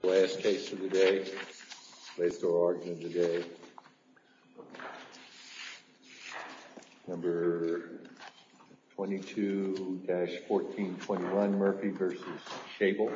The last case of the day, placed over argument of the day, number 22-1421, Murphy v. Schaible.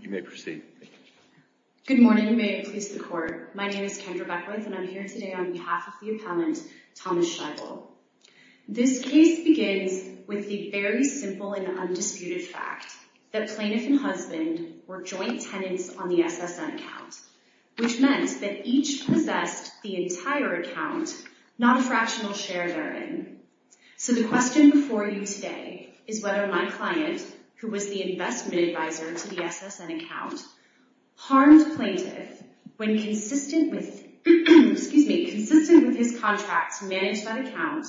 You may proceed. Good morning and may it please the court. My name is Kendra Beckwith and I'm here today on behalf of the appellant Thomas Schaible. This case begins with the very simple and undisputed fact that plaintiff and husband were joint tenants on the SSN account, which meant that each possessed the entire account, not a fractional share therein. So the question before you today is whether my client, who was the investment advisor to the SSN account, harmed plaintiff when consistent with his contracts managed by the account,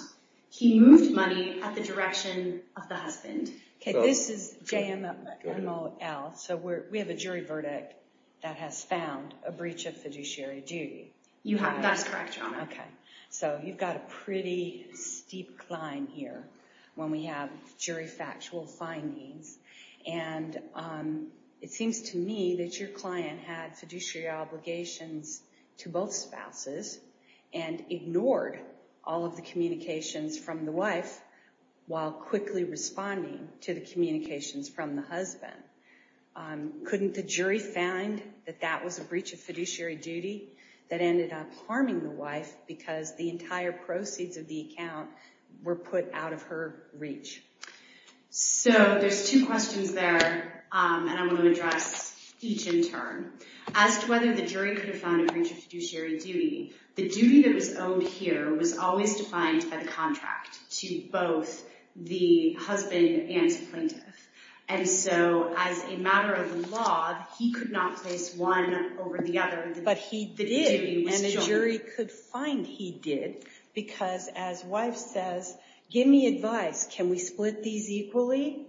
he moved money at the direction of the husband. Okay, this is JMML, so we have a jury verdict that has found a breach of fiduciary duty. Okay, so you've got a pretty steep climb here when we have jury factual findings. And it seems to me that your client had fiduciary obligations to both spouses and ignored all of the communications from the wife while quickly responding to the communications from the husband. Couldn't the jury find that that was a breach of fiduciary duty that ended up harming the wife because the entire proceeds of the account were put out of her reach? So there's two questions there and I'm going to address each in turn. As to whether the jury could have found a breach of fiduciary duty, the duty that was owed here was always defined by the contract to both the husband and to plaintiff. And so as a matter of the law, he could not place one over the other. But he did and the jury could find he did because as wife says, give me advice, can we split these equally?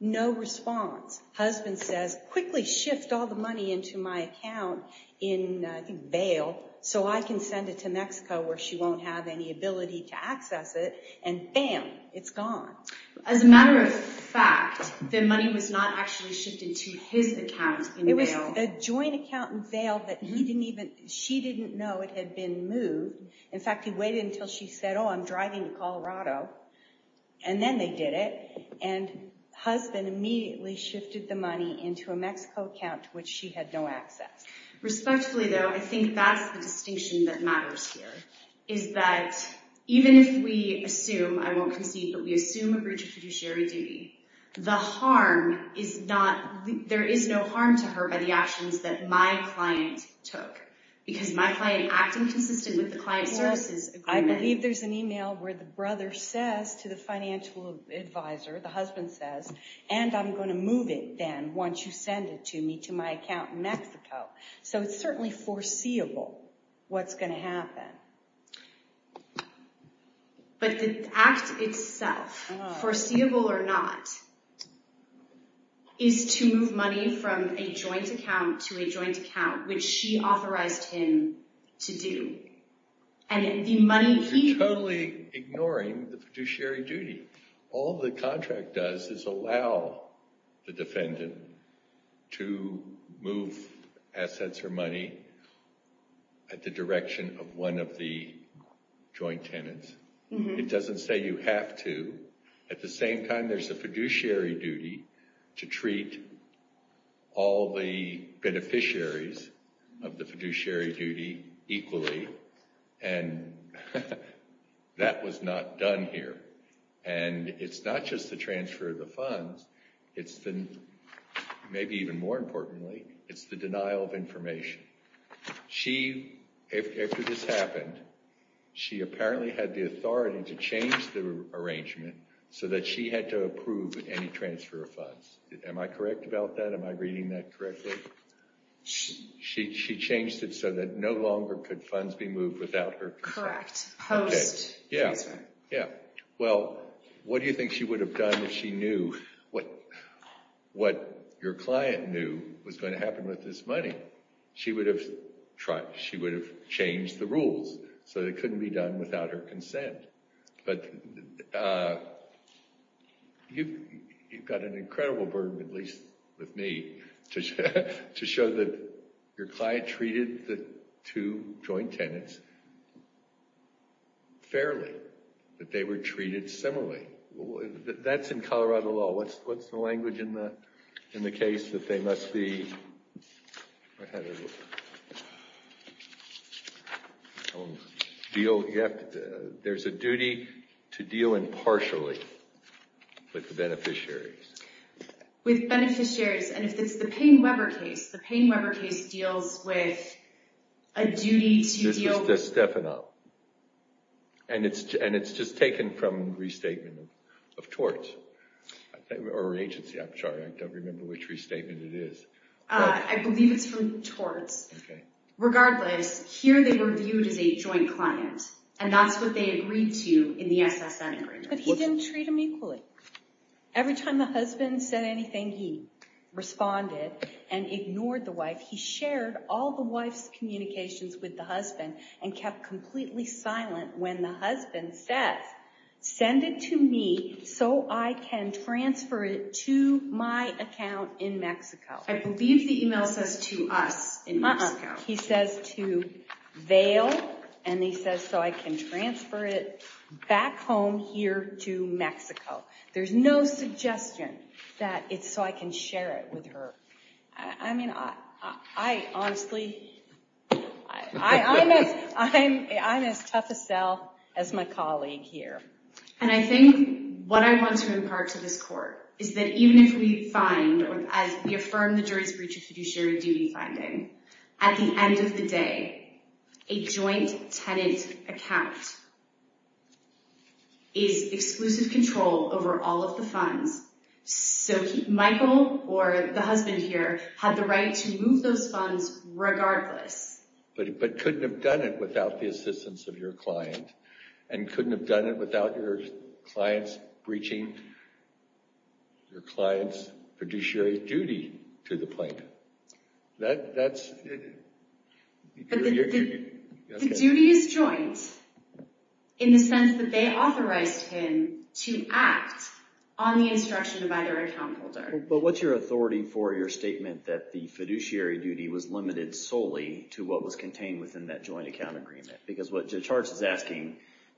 No response. Husband says, quickly shift all the money into my account in bail so I can send it to Mexico where she won't have any ability to access it. And bam, it's gone. As a matter of fact, the money was not actually shifted to his account in bail. It was the joint account in bail that he didn't even, she didn't know it had been moved. In fact, he waited until she said, oh, I'm driving to Colorado. And then they did it. And husband immediately shifted the money into a Mexico account which she had no access. Respectfully though, I think that's the distinction that matters here. Is that even if we assume, I won't concede, but we assume a breach of fiduciary duty, the harm is not, there is no harm to her by the actions that my client took. Because my client acting consistent with the client services agreement. I believe there's an email where the brother says to the financial advisor, the husband says, and I'm going to move it then once you send it to me to my account in Mexico. So it's certainly foreseeable what's going to happen. But the act itself, foreseeable or not, is to move money from a joint account to a joint account, which she authorized him to do. And the money he... You're totally ignoring the fiduciary duty. All the contract does is allow the defendant to move assets or money at the direction of one of the joint tenants. It doesn't say you have to. At the same time, there's a fiduciary duty to treat all the beneficiaries of the fiduciary duty equally. And that was not done here. And it's not just the transfer of the funds. It's the, maybe even more importantly, it's the denial of information. She, after this happened, she apparently had the authority to change the arrangement so that she had to approve any transfer of funds. Am I correct about that? Am I reading that correctly? She changed it so that no longer could funds be moved without her consent. Correct. Post-transfer. Yeah. Well, what do you think she would have done if she knew what your client knew was going to happen with this money? She would have changed the rules so it couldn't be done without her consent. But you've got an incredible burden, at least with me, to show that your client treated the two joint tenants fairly, that they were treated similarly. That's in Colorado law. What's the language in the case that they must be… There's a duty to deal impartially with the beneficiaries. With beneficiaries. And if it's the Payne-Weber case, the Payne-Weber case deals with a duty to deal… And it's just taken from restatement of torts. Or agency, I'm sorry, I don't remember which restatement it is. I believe it's from torts. Okay. Regardless, here they were viewed as a joint client, and that's what they agreed to in the SSN agreement. But he didn't treat them equally. Every time the husband said anything, he responded and ignored the wife. He shared all the wife's communications with the husband and kept completely silent when the husband says, send it to me so I can transfer it to my account in Mexico. I believe the email says to us in Mexico. He says to Vail, and he says so I can transfer it back home here to Mexico. There's no suggestion that it's so I can share it with her. I mean, I honestly, I'm as tough a sell as my colleague here. And I think what I want to impart to this court is that even if we find or as we affirm the jury's breach of fiduciary duty finding, at the end of the day, a joint tenant account is exclusive control over all of the funds. So Michael, or the husband here, had the right to move those funds regardless. But couldn't have done it without the assistance of your client, and couldn't have done it without your client's breaching your client's fiduciary duty to the plaintiff. But the duty is joint in the sense that they authorized him to act on the instruction of either account holder. But what's your authority for your statement that the fiduciary duty was limited solely to what was contained within that joint account agreement? Because what Judge Hartz is asking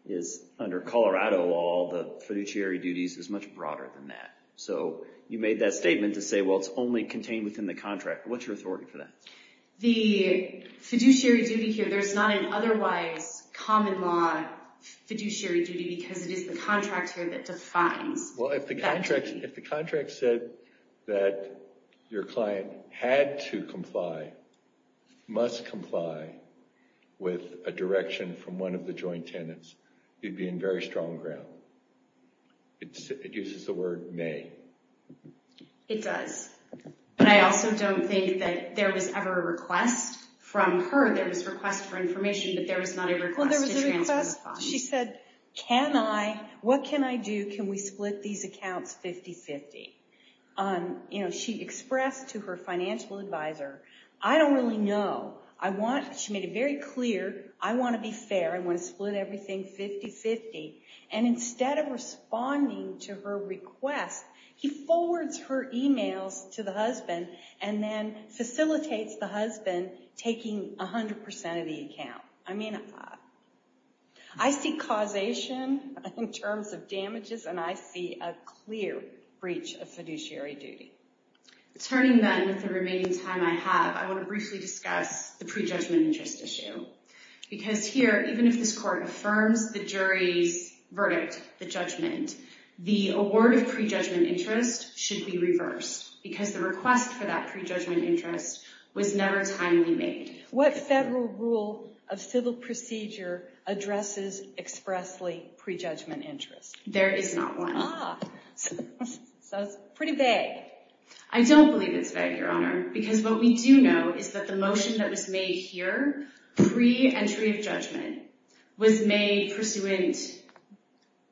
is under Colorado law, the fiduciary duties is much broader than that. So you made that statement to say, well, it's only contained within the contract. What's your authority for that? The fiduciary duty here, there's not an otherwise common law fiduciary duty because it is the contract here that defines that duty. Well, if the contract said that your client had to comply, must comply with a direction from one of the joint tenants, you'd be in very strong ground. It uses the word may. It does. But I also don't think that there was ever a request from her. There was a request for information, but there was not a request to transfer the funds. Well, there was a request. She said, what can I do? Can we split these accounts 50-50? She expressed to her financial advisor, I don't really know. She made it very clear. I want to be fair. I want to split everything 50-50. And instead of responding to her request, he forwards her emails to the husband and then facilitates the husband taking 100% of the account. I see causation in terms of damages, and I see a clear breach of fiduciary duty. Turning then with the remaining time I have, I want to briefly discuss the prejudgment interest issue. Because here, even if this court affirms the jury's verdict, the judgment, the award of prejudgment interest should be reversed. Because the request for that prejudgment interest was never timely made. What federal rule of civil procedure addresses expressly prejudgment interest? There is not one. Ah. So it's pretty vague. I don't believe it's vague, Your Honor, because what we do know is that the motion that was made here, pre-entry of judgment, was made pursuant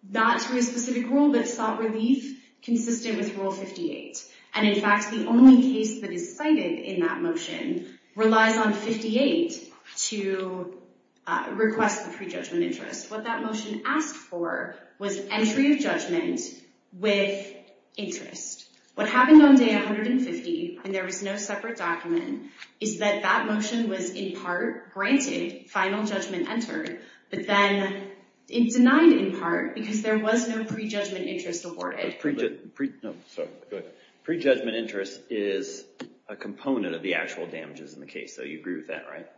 not to a specific rule, but sought relief consistent with Rule 58. And in fact, the only case that is cited in that motion relies on 58 to request the prejudgment interest. What that motion asked for was entry of judgment with interest. What happened on day 150, and there was no separate document, is that that motion was in part granted final judgment entered, but then denied in part because there was no prejudgment interest awarded. Prejudgment interest is a component of the actual damages in the case. So you agree with that, right?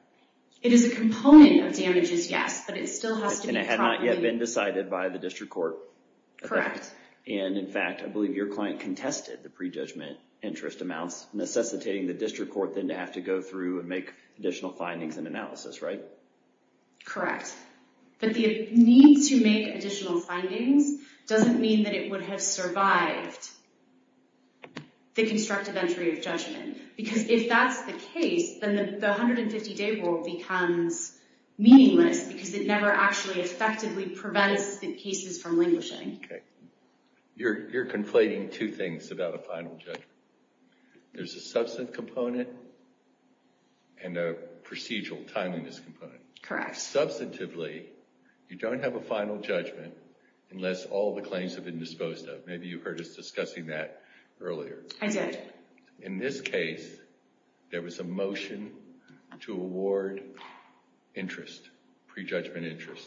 It is a component of damages, yes, but it still has to be properly— And it had not yet been decided by the district court. Correct. And in fact, I believe your client contested the prejudgment interest amounts, necessitating the district court then to have to go through and make additional findings and analysis, right? Correct. But the need to make additional findings doesn't mean that it would have survived the constructive entry of judgment. Because if that's the case, then the 150-day rule becomes meaningless because it never actually effectively prevents the cases from languishing. You're conflating two things about a final judgment. There's a substantive component and a procedural timeliness component. Correct. Substantively, you don't have a final judgment unless all the claims have been disposed of. Maybe you heard us discussing that earlier. I did. In this case, there was a motion to award interest, prejudgment interest.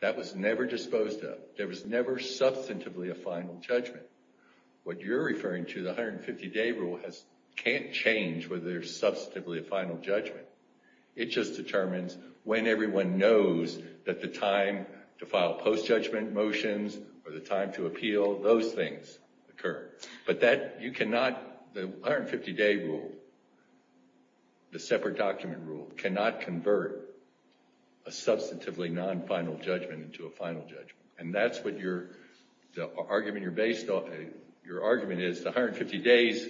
That was never disposed of. There was never substantively a final judgment. What you're referring to, the 150-day rule, can't change whether there's substantively a final judgment. It just determines when everyone knows that the time to file post-judgment motions or the time to appeal, those things occur. But the 150-day rule, the separate document rule, cannot convert a substantively non-final judgment into a final judgment. And that's what your argument is. The 150 days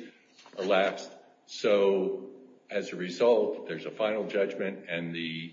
elapsed. So as a result, there's a final judgment, and the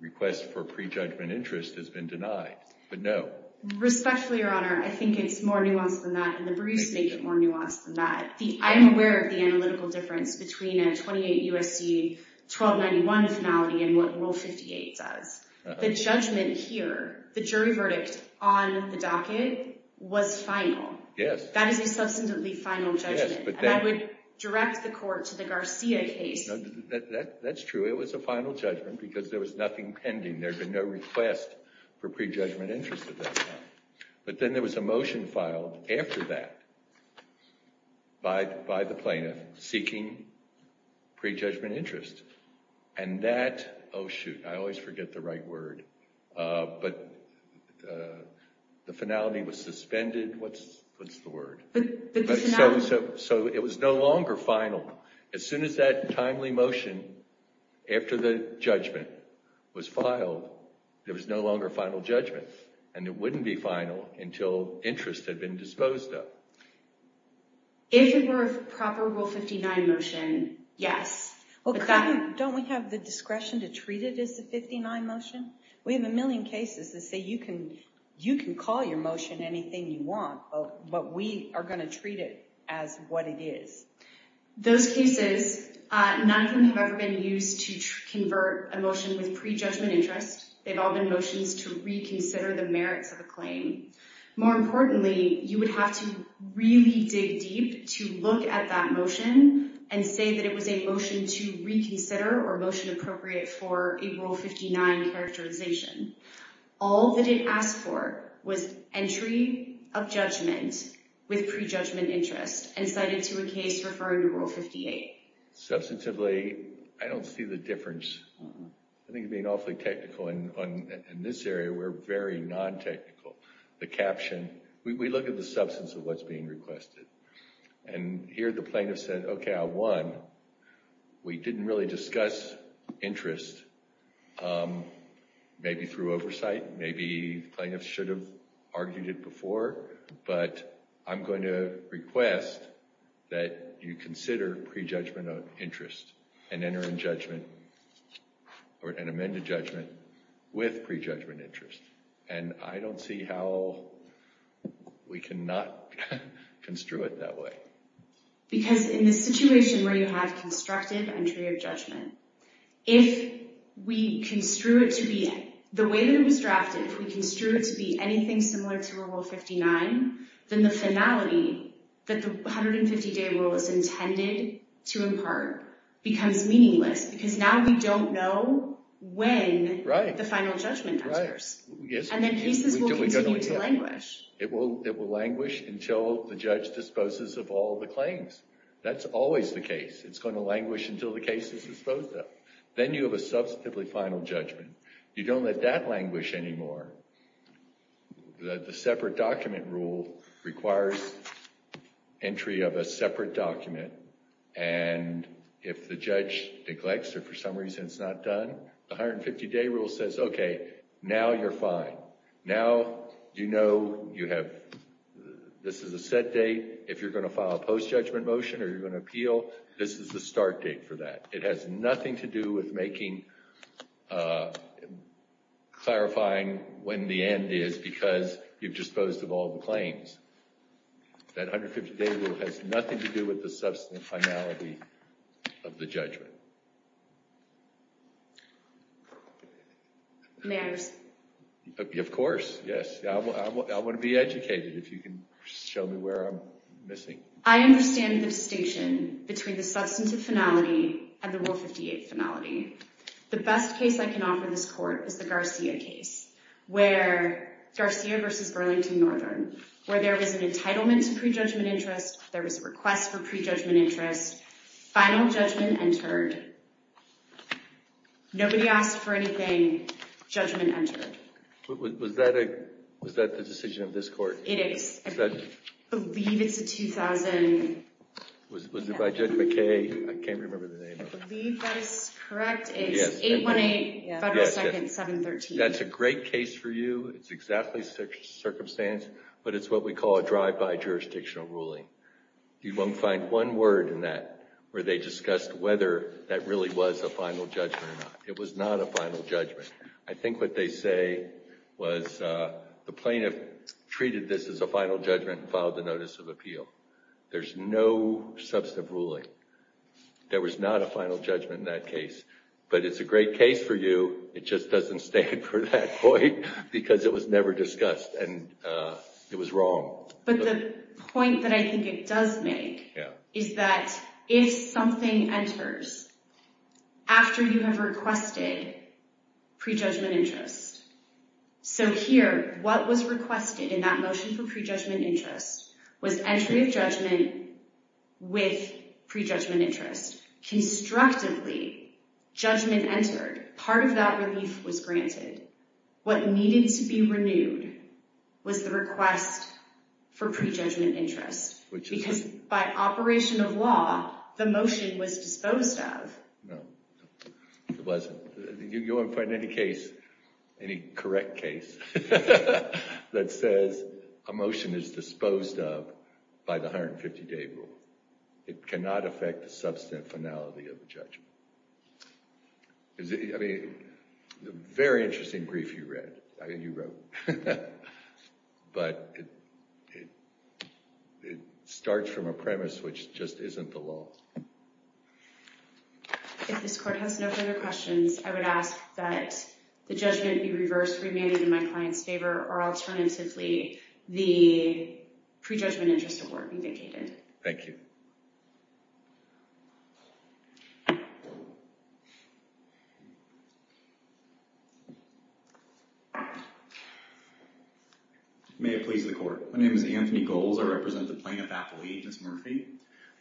request for prejudgment interest has been denied. But no. Respectfully, Your Honor, I think it's more nuanced than that. And the briefs make it more nuanced than that. I'm aware of the analytical difference between a 28 U.S.C. 1291 finality and what Rule 58 does. The judgment here, the jury verdict on the docket, was final. Yes. That is a substantively final judgment. And that would direct the court to the Garcia case. That's true. It was a final judgment because there was nothing pending. There had been no request for prejudgment interest at that time. But then there was a motion filed after that by the plaintiff seeking prejudgment interest. And that, oh shoot, I always forget the right word, but the finality was suspended. What's the word? So it was no longer final. As soon as that timely motion after the judgment was filed, there was no longer final judgment. And it wouldn't be final until interest had been disposed of. If it were a proper Rule 59 motion, yes. Don't we have the discretion to treat it as a 59 motion? We have a million cases that say you can call your motion anything you want, but we are going to treat it as what it is. Those cases, none of them have ever been used to convert a motion with prejudgment interest. They've all been motions to reconsider the merits of a claim. More importantly, you would have to really dig deep to look at that motion and say that it was a motion to reconsider or a motion appropriate for a Rule 59 characterization. All that it asked for was entry of judgment with prejudgment interest and cited to a case referring to Rule 58. Substantively, I don't see the difference. I think being awfully technical in this area, we're very non-technical. The caption, we look at the substance of what's being requested. And here the plaintiff said, okay, I won. We didn't really discuss interest, maybe through oversight, maybe plaintiffs should have argued it before, but I'm going to request that you consider prejudgment interest and enter in judgment or an amended judgment with prejudgment interest. And I don't see how we can not construe it that way. Because in this situation where you have constructed entry of judgment, if we construe it to be the way that it was drafted, if we construe it to be anything similar to Rule 59, then the finality that the 150-day rule is intended to impart becomes meaningless because now we don't know when the final judgment occurs. And then cases will continue to languish. It will languish until the judge disposes of all the claims. That's always the case. It's going to languish until the case is disposed of. Then you have a substantively final judgment. You don't let that languish anymore. The separate document rule requires entry of a separate document. And if the judge neglects or for some reason it's not done, the 150-day rule says, okay, now you're fine. Now you know this is a set date. If you're going to file a post-judgment motion or you're going to appeal, this is the start date for that. It has nothing to do with clarifying when the end is because you've disposed of all the claims. That 150-day rule has nothing to do with the substantive finality of the judgment. May I respond? Of course, yes. I want to be educated. If you can show me where I'm missing. I understand the distinction between the substantive finality and the Rule 58 finality. The best case I can offer this court is the Garcia case, Garcia v. Burlington Northern, where there was an entitlement to prejudgment interest. There was a request for prejudgment interest. Final judgment entered. Nobody asked for anything. Judgment entered. Was that the decision of this court? It is. I believe it's a 2000. Was it by Judge McKay? I can't remember the name of it. I believe that is correct. It's 818 Federal Second 713. That's a great case for you. It's exactly such a circumstance, but it's what we call a drive-by jurisdictional ruling. You won't find one word in that where they discussed whether that really was a final judgment or not. It was not a final judgment. I think what they say was the plaintiff treated this as a final judgment and filed a notice of appeal. There's no substantive ruling. There was not a final judgment in that case, but it's a great case for you. It just doesn't stand for that point because it was never discussed, and it was wrong. But the point that I think it does make is that if something enters after you have requested prejudgment interest, so here, what was requested in that motion for prejudgment interest was entry of judgment with prejudgment interest. Constructively, judgment entered. Part of that relief was granted. What needed to be renewed was the request for prejudgment interest, because by operation of law, the motion was disposed of. No, it wasn't. You won't find any case, any correct case, that says a motion is disposed of by the 150-day rule. It cannot affect the substantienality of the judgment. I mean, a very interesting brief you wrote. But it starts from a premise which just isn't the law. If this court has no further questions, I would ask that the judgment be reversed, remanded in my client's favor, or alternatively, the prejudgment interest award be vacated. Thank you. Thank you. May it please the court. My name is Anthony Goelz. I represent the plaintiff, Appleby, Ms. Murphy.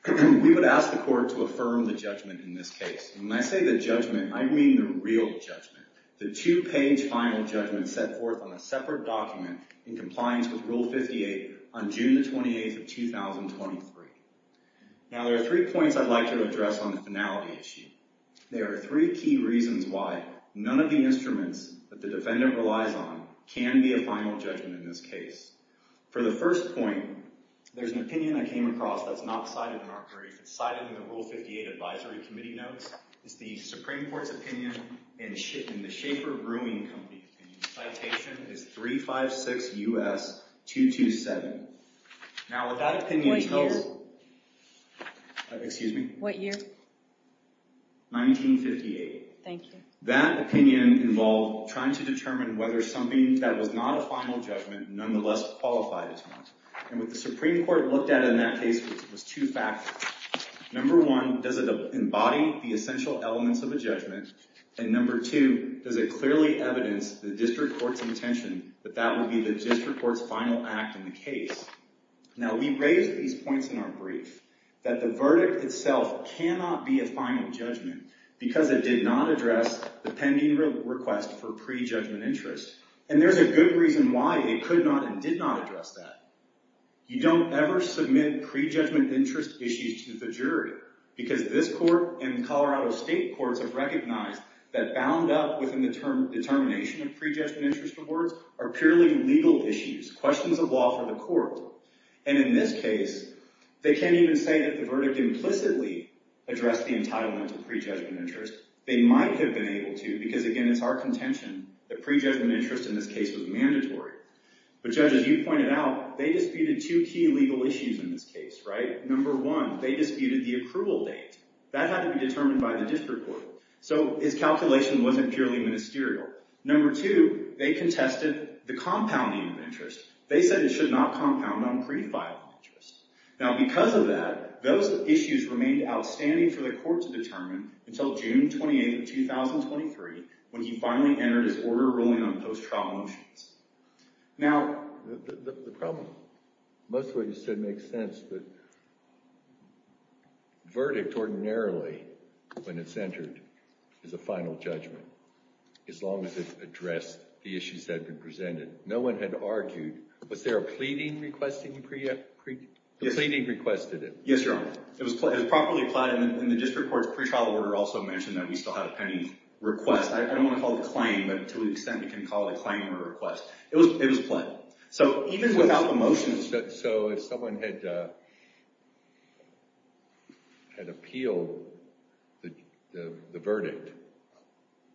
We would ask the court to affirm the judgment in this case. When I say the judgment, I mean the real judgment, the two-page final judgment set forth on a separate document in compliance with Rule 58 on June the 28th of 2023. Now, there are three points I'd like to address on the finality issue. There are three key reasons why none of the instruments that the defendant relies on can be a final judgment in this case. For the first point, there's an opinion I came across that's not cited in our brief. It's cited in the Rule 58 Advisory Committee notes. It's the Supreme Court's opinion and the Schaeffer Brewing Company opinion. Citation is 356 U.S. 227. What year? Excuse me? What year? 1958. Thank you. That opinion involved trying to determine whether something that was not a final judgment nonetheless qualified as one. And what the Supreme Court looked at in that case was two factors. Number one, does it embody the essential elements of a judgment? And number two, does it clearly evidence the district court's intention that that would be the district court's final act in the case? Now, we raised these points in our brief that the verdict itself cannot be a final judgment because it did not address the pending request for pre-judgment interest. And there's a good reason why it could not and did not address that. You don't ever submit pre-judgment interest issues to the jury because this court and Colorado state courts have recognized that bound up within the termination of pre-judgment interest awards are purely legal issues, questions of law for the court. And in this case, they can't even say that the verdict implicitly addressed the entitlement to pre-judgment interest. They might have been able to because, again, it's our contention that pre-judgment interest in this case was mandatory. But, Judge, as you pointed out, they disputed two key legal issues in this case, right? Number one, they disputed the approval date. That had to be determined by the district court. So his calculation wasn't purely ministerial. Number two, they contested the compounding of interest. They said it should not compound on pre-filed interest. Now, because of that, those issues remained outstanding for the court to determine until June 28, 2023, when he finally entered his order ruling on post-trial motions. Now, the problem, most of what you said makes sense. But verdict ordinarily, when it's entered, is a final judgment as long as it's addressed the issues that have been presented. No one had argued. Was there a pleading requested? The pleading requested it. Yes, Your Honor. It was properly applied. And the district court's pretrial order also mentioned that we still had a pending request. I don't want to call it a claim, but to an extent we can call it a claim or a request. It was pled. So even without the motion… So if someone had appealed the verdict,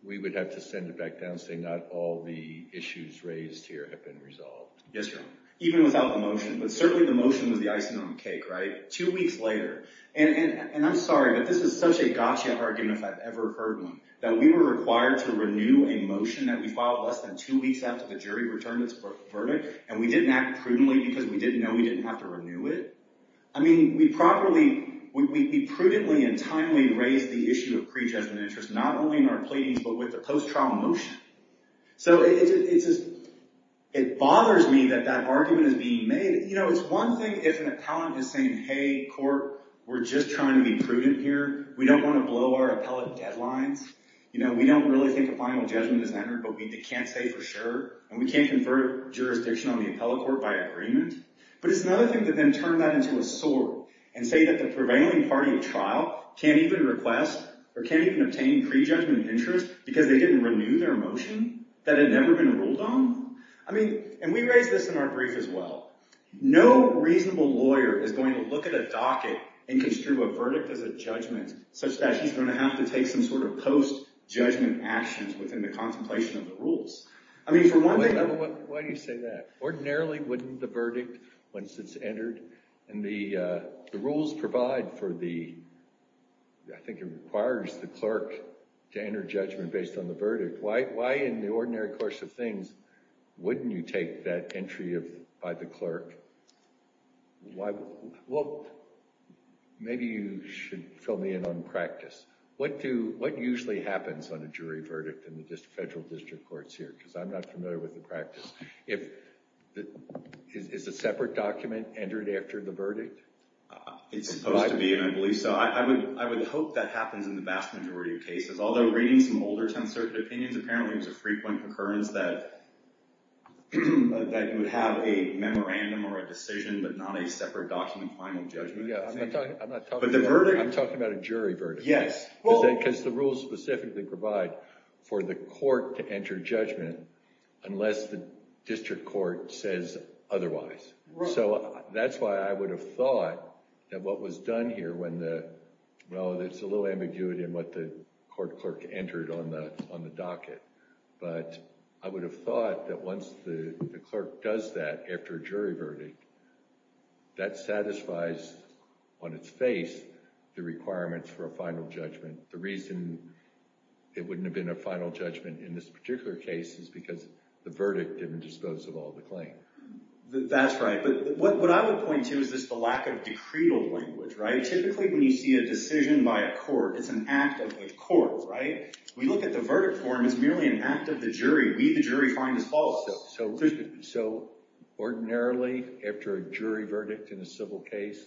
we would have to send it back down and say not all the issues raised here have been resolved. Yes, Your Honor. Even without the motion. But certainly the motion was the icing on the cake, right? And I'm sorry, but this is such a gotcha argument if I've ever heard one. That we were required to renew a motion that we filed less than two weeks after the jury returned its verdict, and we didn't act prudently because we didn't know we didn't have to renew it? I mean, we prudently and timely raised the issue of pre-judgment interest not only in our pleadings but with the post-trial motion. So it bothers me that that argument is being made. It's one thing if an appellant is saying, hey, court, we're just trying to be prudent here. We don't want to blow our appellate deadlines. We don't really think a final judgment is entered, but we can't say for sure. And we can't confer jurisdiction on the appellate court by agreement. But it's another thing to then turn that into a sword and say that the prevailing party of trial can't even request or can't even obtain pre-judgment interest because they didn't renew their motion that had never been ruled on? I mean, and we raised this in our brief as well. No reasonable lawyer is going to look at a docket and construe a verdict as a judgment such that he's going to have to take some sort of post-judgment actions within the contemplation of the rules. I mean, for one thing— Why do you say that? Ordinarily, wouldn't the verdict, once it's entered, and the rules provide for the— Why in the ordinary course of things wouldn't you take that entry by the clerk? Well, maybe you should fill me in on practice. What usually happens on a jury verdict in the federal district courts here? Because I'm not familiar with the practice. Is a separate document entered after the verdict? It's supposed to be, and I believe so. I would hope that happens in the vast majority of cases. Although reading some older 10th Circuit opinions, apparently it was a frequent occurrence that you would have a memorandum or a decision but not a separate document final judgment. Yeah, I'm not talking about a jury verdict. Yes. Because the rules specifically provide for the court to enter judgment unless the district court says otherwise. So that's why I would have thought that what was done here when the— before the clerk entered on the docket. But I would have thought that once the clerk does that after a jury verdict, that satisfies on its face the requirements for a final judgment. The reason it wouldn't have been a final judgment in this particular case is because the verdict didn't dispose of all the claims. That's right. But what I would point to is just the lack of decretal language, right? Typically when you see a decision by a court, it's an act of the court, right? When you look at the verdict form, it's merely an act of the jury. We, the jury, find this false. So ordinarily after a jury verdict in a civil case,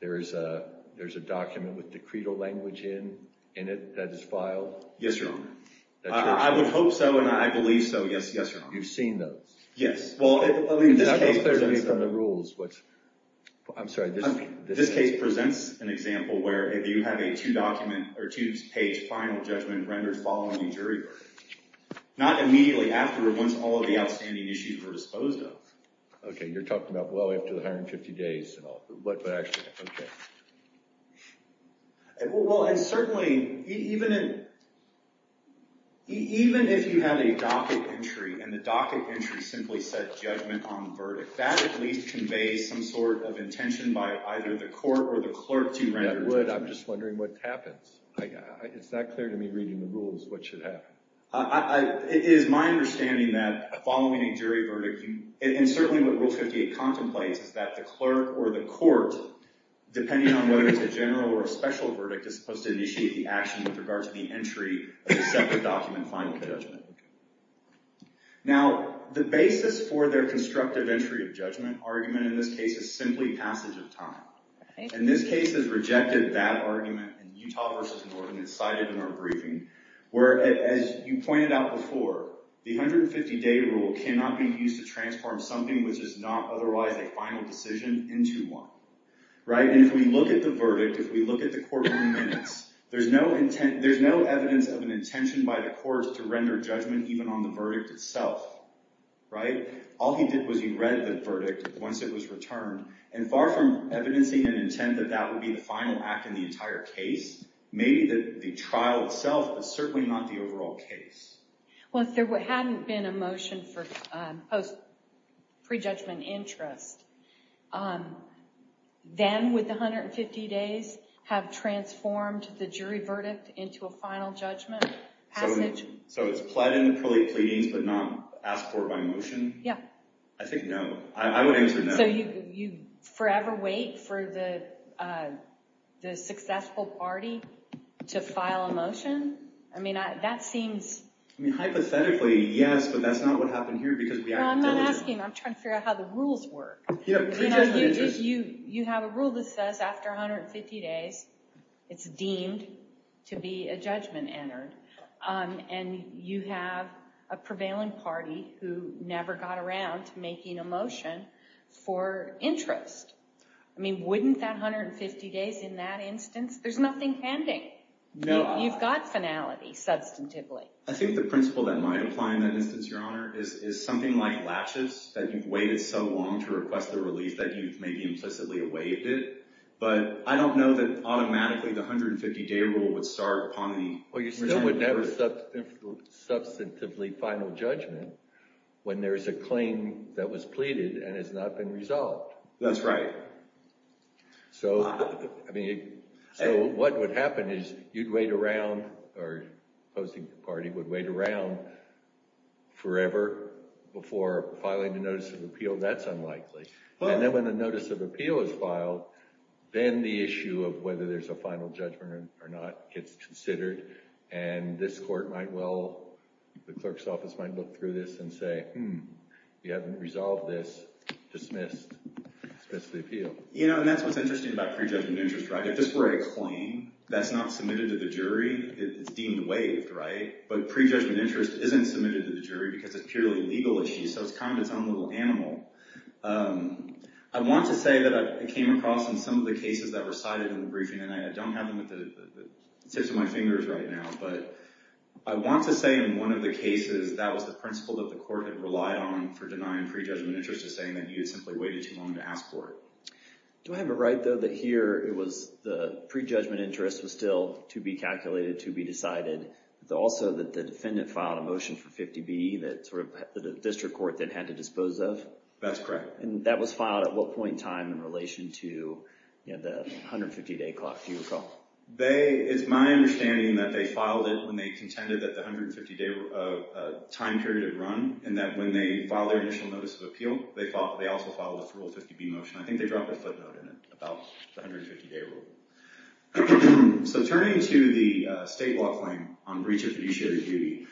there's a document with decretal language in it that is filed? Yes, Your Honor. I would hope so, and I believe so. Yes, Your Honor. You've seen those? Yes. Well, I mean, this case— That was clear to me from the rules. I'm sorry. This case presents an example where if you have a two-page final judgment rendered following a jury verdict, not immediately after once all of the outstanding issues were disposed of. Okay, you're talking about, well, after 150 days and all. But actually, okay. Well, and certainly, even if you have a docket entry and the docket entry simply said judgment on the verdict, that at least conveys some sort of intention by either the court or the clerk to render judgment. It would. I'm just wondering what happens. It's not clear to me reading the rules what should happen. It is my understanding that following a jury verdict, and certainly what Rule 58 contemplates, is that the clerk or the court, depending on whether it's a general or a special verdict, is supposed to initiate the action with regard to the entry of a separate document, final judgment. Now, the basis for their constructive entry of judgment argument in this case is simply passage of time. And this case has rejected that argument in Utah v. Oregon. It's cited in our briefing where, as you pointed out before, the 150-day rule cannot be used to transform something which is not otherwise a final decision into one. Right? And if we look at the verdict, if we look at the courtroom minutes, there's no evidence of an intention by the courts to render judgment even on the verdict itself. Right? All he did was he read the verdict once it was returned. And far from evidencing an intent that that would be the final act in the entire case, maybe the trial itself, but certainly not the overall case. Well, if there hadn't been a motion for pre-judgment interest, then would the 150 days have transformed the jury verdict into a final judgment passage? So it's pled in the early pleadings but not asked for by motion? Yeah. I think no. I would answer no. So you forever wait for the successful party to file a motion? I mean, that seems... I mean, hypothetically, yes, but that's not what happened here because we acted diligently. Well, I'm not asking. I'm trying to figure out how the rules work. Yeah, pre-judgment interest. You have a rule that says after 150 days, it's deemed to be a judgment entered. And you have a prevailing party who never got around to making a motion for interest. I mean, wouldn't that 150 days in that instance? There's nothing pending. You've got finality, substantively. I think the principle that might apply in that instance, Your Honor, is something like laches, that you've waited so long to request the release that you've maybe implicitly waived it. But I don't know that automatically the 150-day rule would start upon the... Well, you still wouldn't have substantively final judgment when there is a claim that was pleaded and has not been resolved. That's right. So what would happen is you'd wait around, or opposing party would wait around forever before filing a notice of appeal. That's unlikely. And then when a notice of appeal is filed, then the issue of whether there's a final judgment or not gets considered. And this court might well, the clerk's office might look through this and say, hmm, you haven't resolved this, dismissed, dismissed the appeal. You know, and that's what's interesting about prejudgment interest, right? If this were a claim that's not submitted to the jury, it's deemed waived, right? But prejudgment interest isn't submitted to the jury because it's purely a legal issue, so it's kind of its own little animal. I want to say that I came across in some of the cases that were cited in the briefing, and I don't have them at the tips of my fingers right now, but I want to say in one of the cases, that was the principle that the court had relied on for denying prejudgment interest, is saying that you had simply waited too long to ask for it. Do I have it right, though, that here it was the prejudgment interest was still to be calculated, to be decided, but also that the defendant filed a motion for 50B that sort of the district court then had to dispose of? That's correct. And that was filed at what point in time in relation to the 150-day clock, do you recall? It's my understanding that they filed it when they contended that the 150-day time period had run, and that when they filed their initial notice of appeal, they also filed a full 50B motion. I think they dropped a footnote in it about the 150-day rule. So turning to the state law claim on breach of fiduciary duty,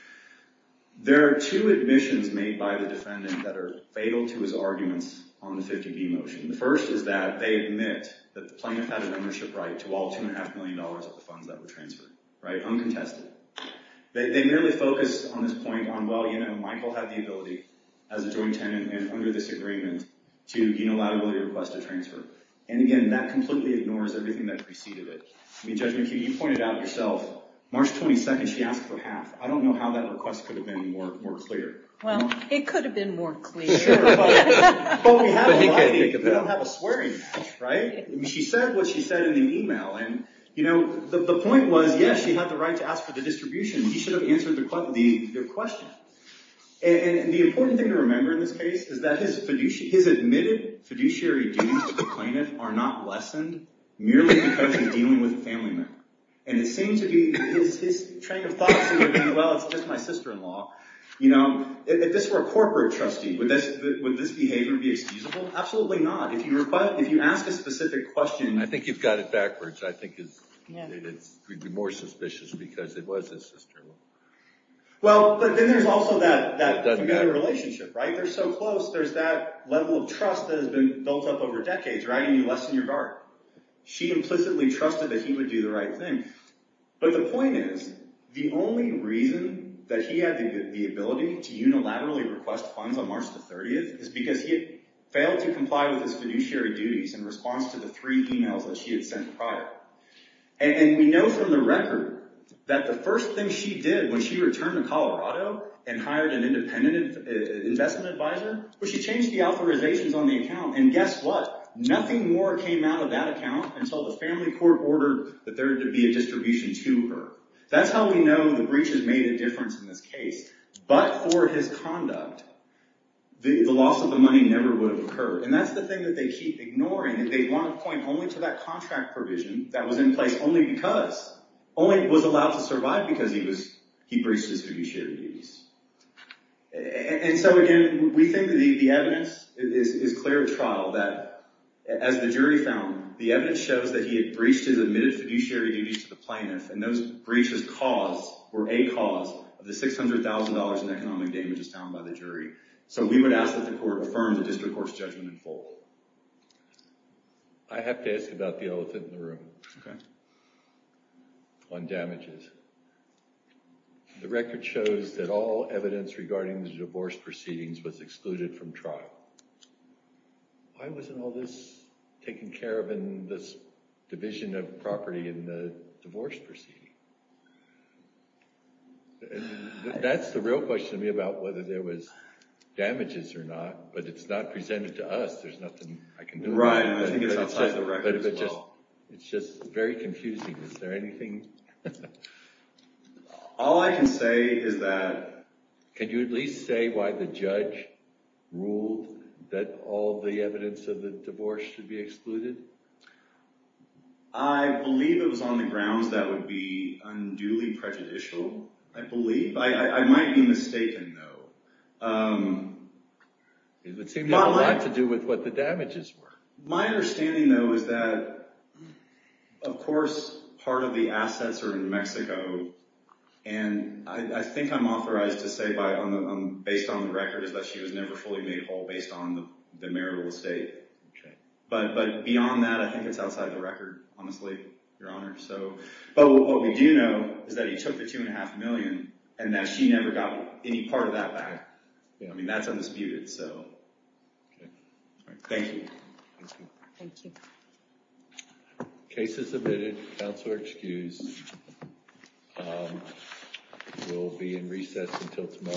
there are two admissions made by the defendant that are fatal to his arguments on the 50B motion. The first is that they admit that the plaintiff had an ownership right to all $2.5 million of the funds that were transferred, uncontested. They merely focus on this point on, well, you know, Michael had the ability as a joint tenant and under this agreement to gain a liability request to transfer. And again, that completely ignores everything that preceded it. I mean, Judge McHugh, you pointed out yourself, March 22nd, she asked for half. I don't know how that request could have been more clear. Well, it could have been more clear. But we have a liability. We don't have a swearing match, right? I mean, she said what she said in the email. And, you know, the point was, yes, she had the right to ask for the distribution. He should have answered their question. And the important thing to remember in this case is that his admitted fiduciary duties to the plaintiff are not lessened, merely because he's dealing with a family member. And it seemed to be his train of thought seemed to be, well, it's just my sister-in-law. You know, if this were a corporate trustee, would this behavior be excusable? Absolutely not. If you ask a specific question. I think you've got it backwards. I think it would be more suspicious because it was his sister-in-law. Well, but then there's also that familiar relationship, right? They're so close. There's that level of trust that has been built up over decades, right? And you lessen your guard. She implicitly trusted that he would do the right thing. But the point is, the only reason that he had the ability to unilaterally request funds on March 30th is because he had failed to comply with his fiduciary duties in response to the three emails that she had sent prior. And we know from the record that the first thing she did when she returned to Colorado and hired an independent investment advisor was she changed the authorizations on the account. And guess what? Nothing more came out of that account until the family court ordered that there be a distribution to her. That's how we know the breach has made a difference in this case. But for his conduct, the loss of the money never would have occurred. And that's the thing that they keep ignoring. They want to point only to that contract provision that was in place only because, only was allowed to survive because he breached his fiduciary duties. And so again, we think the evidence is clear of trial that, as the jury found, the evidence shows that he had breached his admitted fiduciary duties to the plaintiff and those breaches were a cause of the $600,000 in economic damages found by the jury. So we would ask that the court affirm the district court's judgment in full. I have to ask about the elephant in the room on damages. The record shows that all evidence regarding the divorce proceedings was excluded from trial. Why wasn't all this taken care of in this division of property in the divorce proceeding? That's the real question to me about whether there was damages or not. But it's not presented to us. There's nothing I can do about it. Right. I think it's outside the record as well. It's just very confusing. Is there anything? All I can say is that... Can you at least say why the judge ruled that all the evidence of the divorce should be excluded? I believe it was on the grounds that would be unduly prejudicial, I believe. I might be mistaken, though. It would seem to have a lot to do with what the damages were. My understanding, though, is that, of course, part of the assets are in New Mexico. And I think I'm authorized to say based on the record that she was never fully made whole based on the marital estate. But beyond that, I think it's outside the record, honestly, Your Honor. But what we do know is that he took the $2.5 million and that she never got any part of that back. I mean, that's undisputed. Thank you. Thank you. Case is admitted. Counsel are excused. We'll be in recess until tomorrow at 8.30.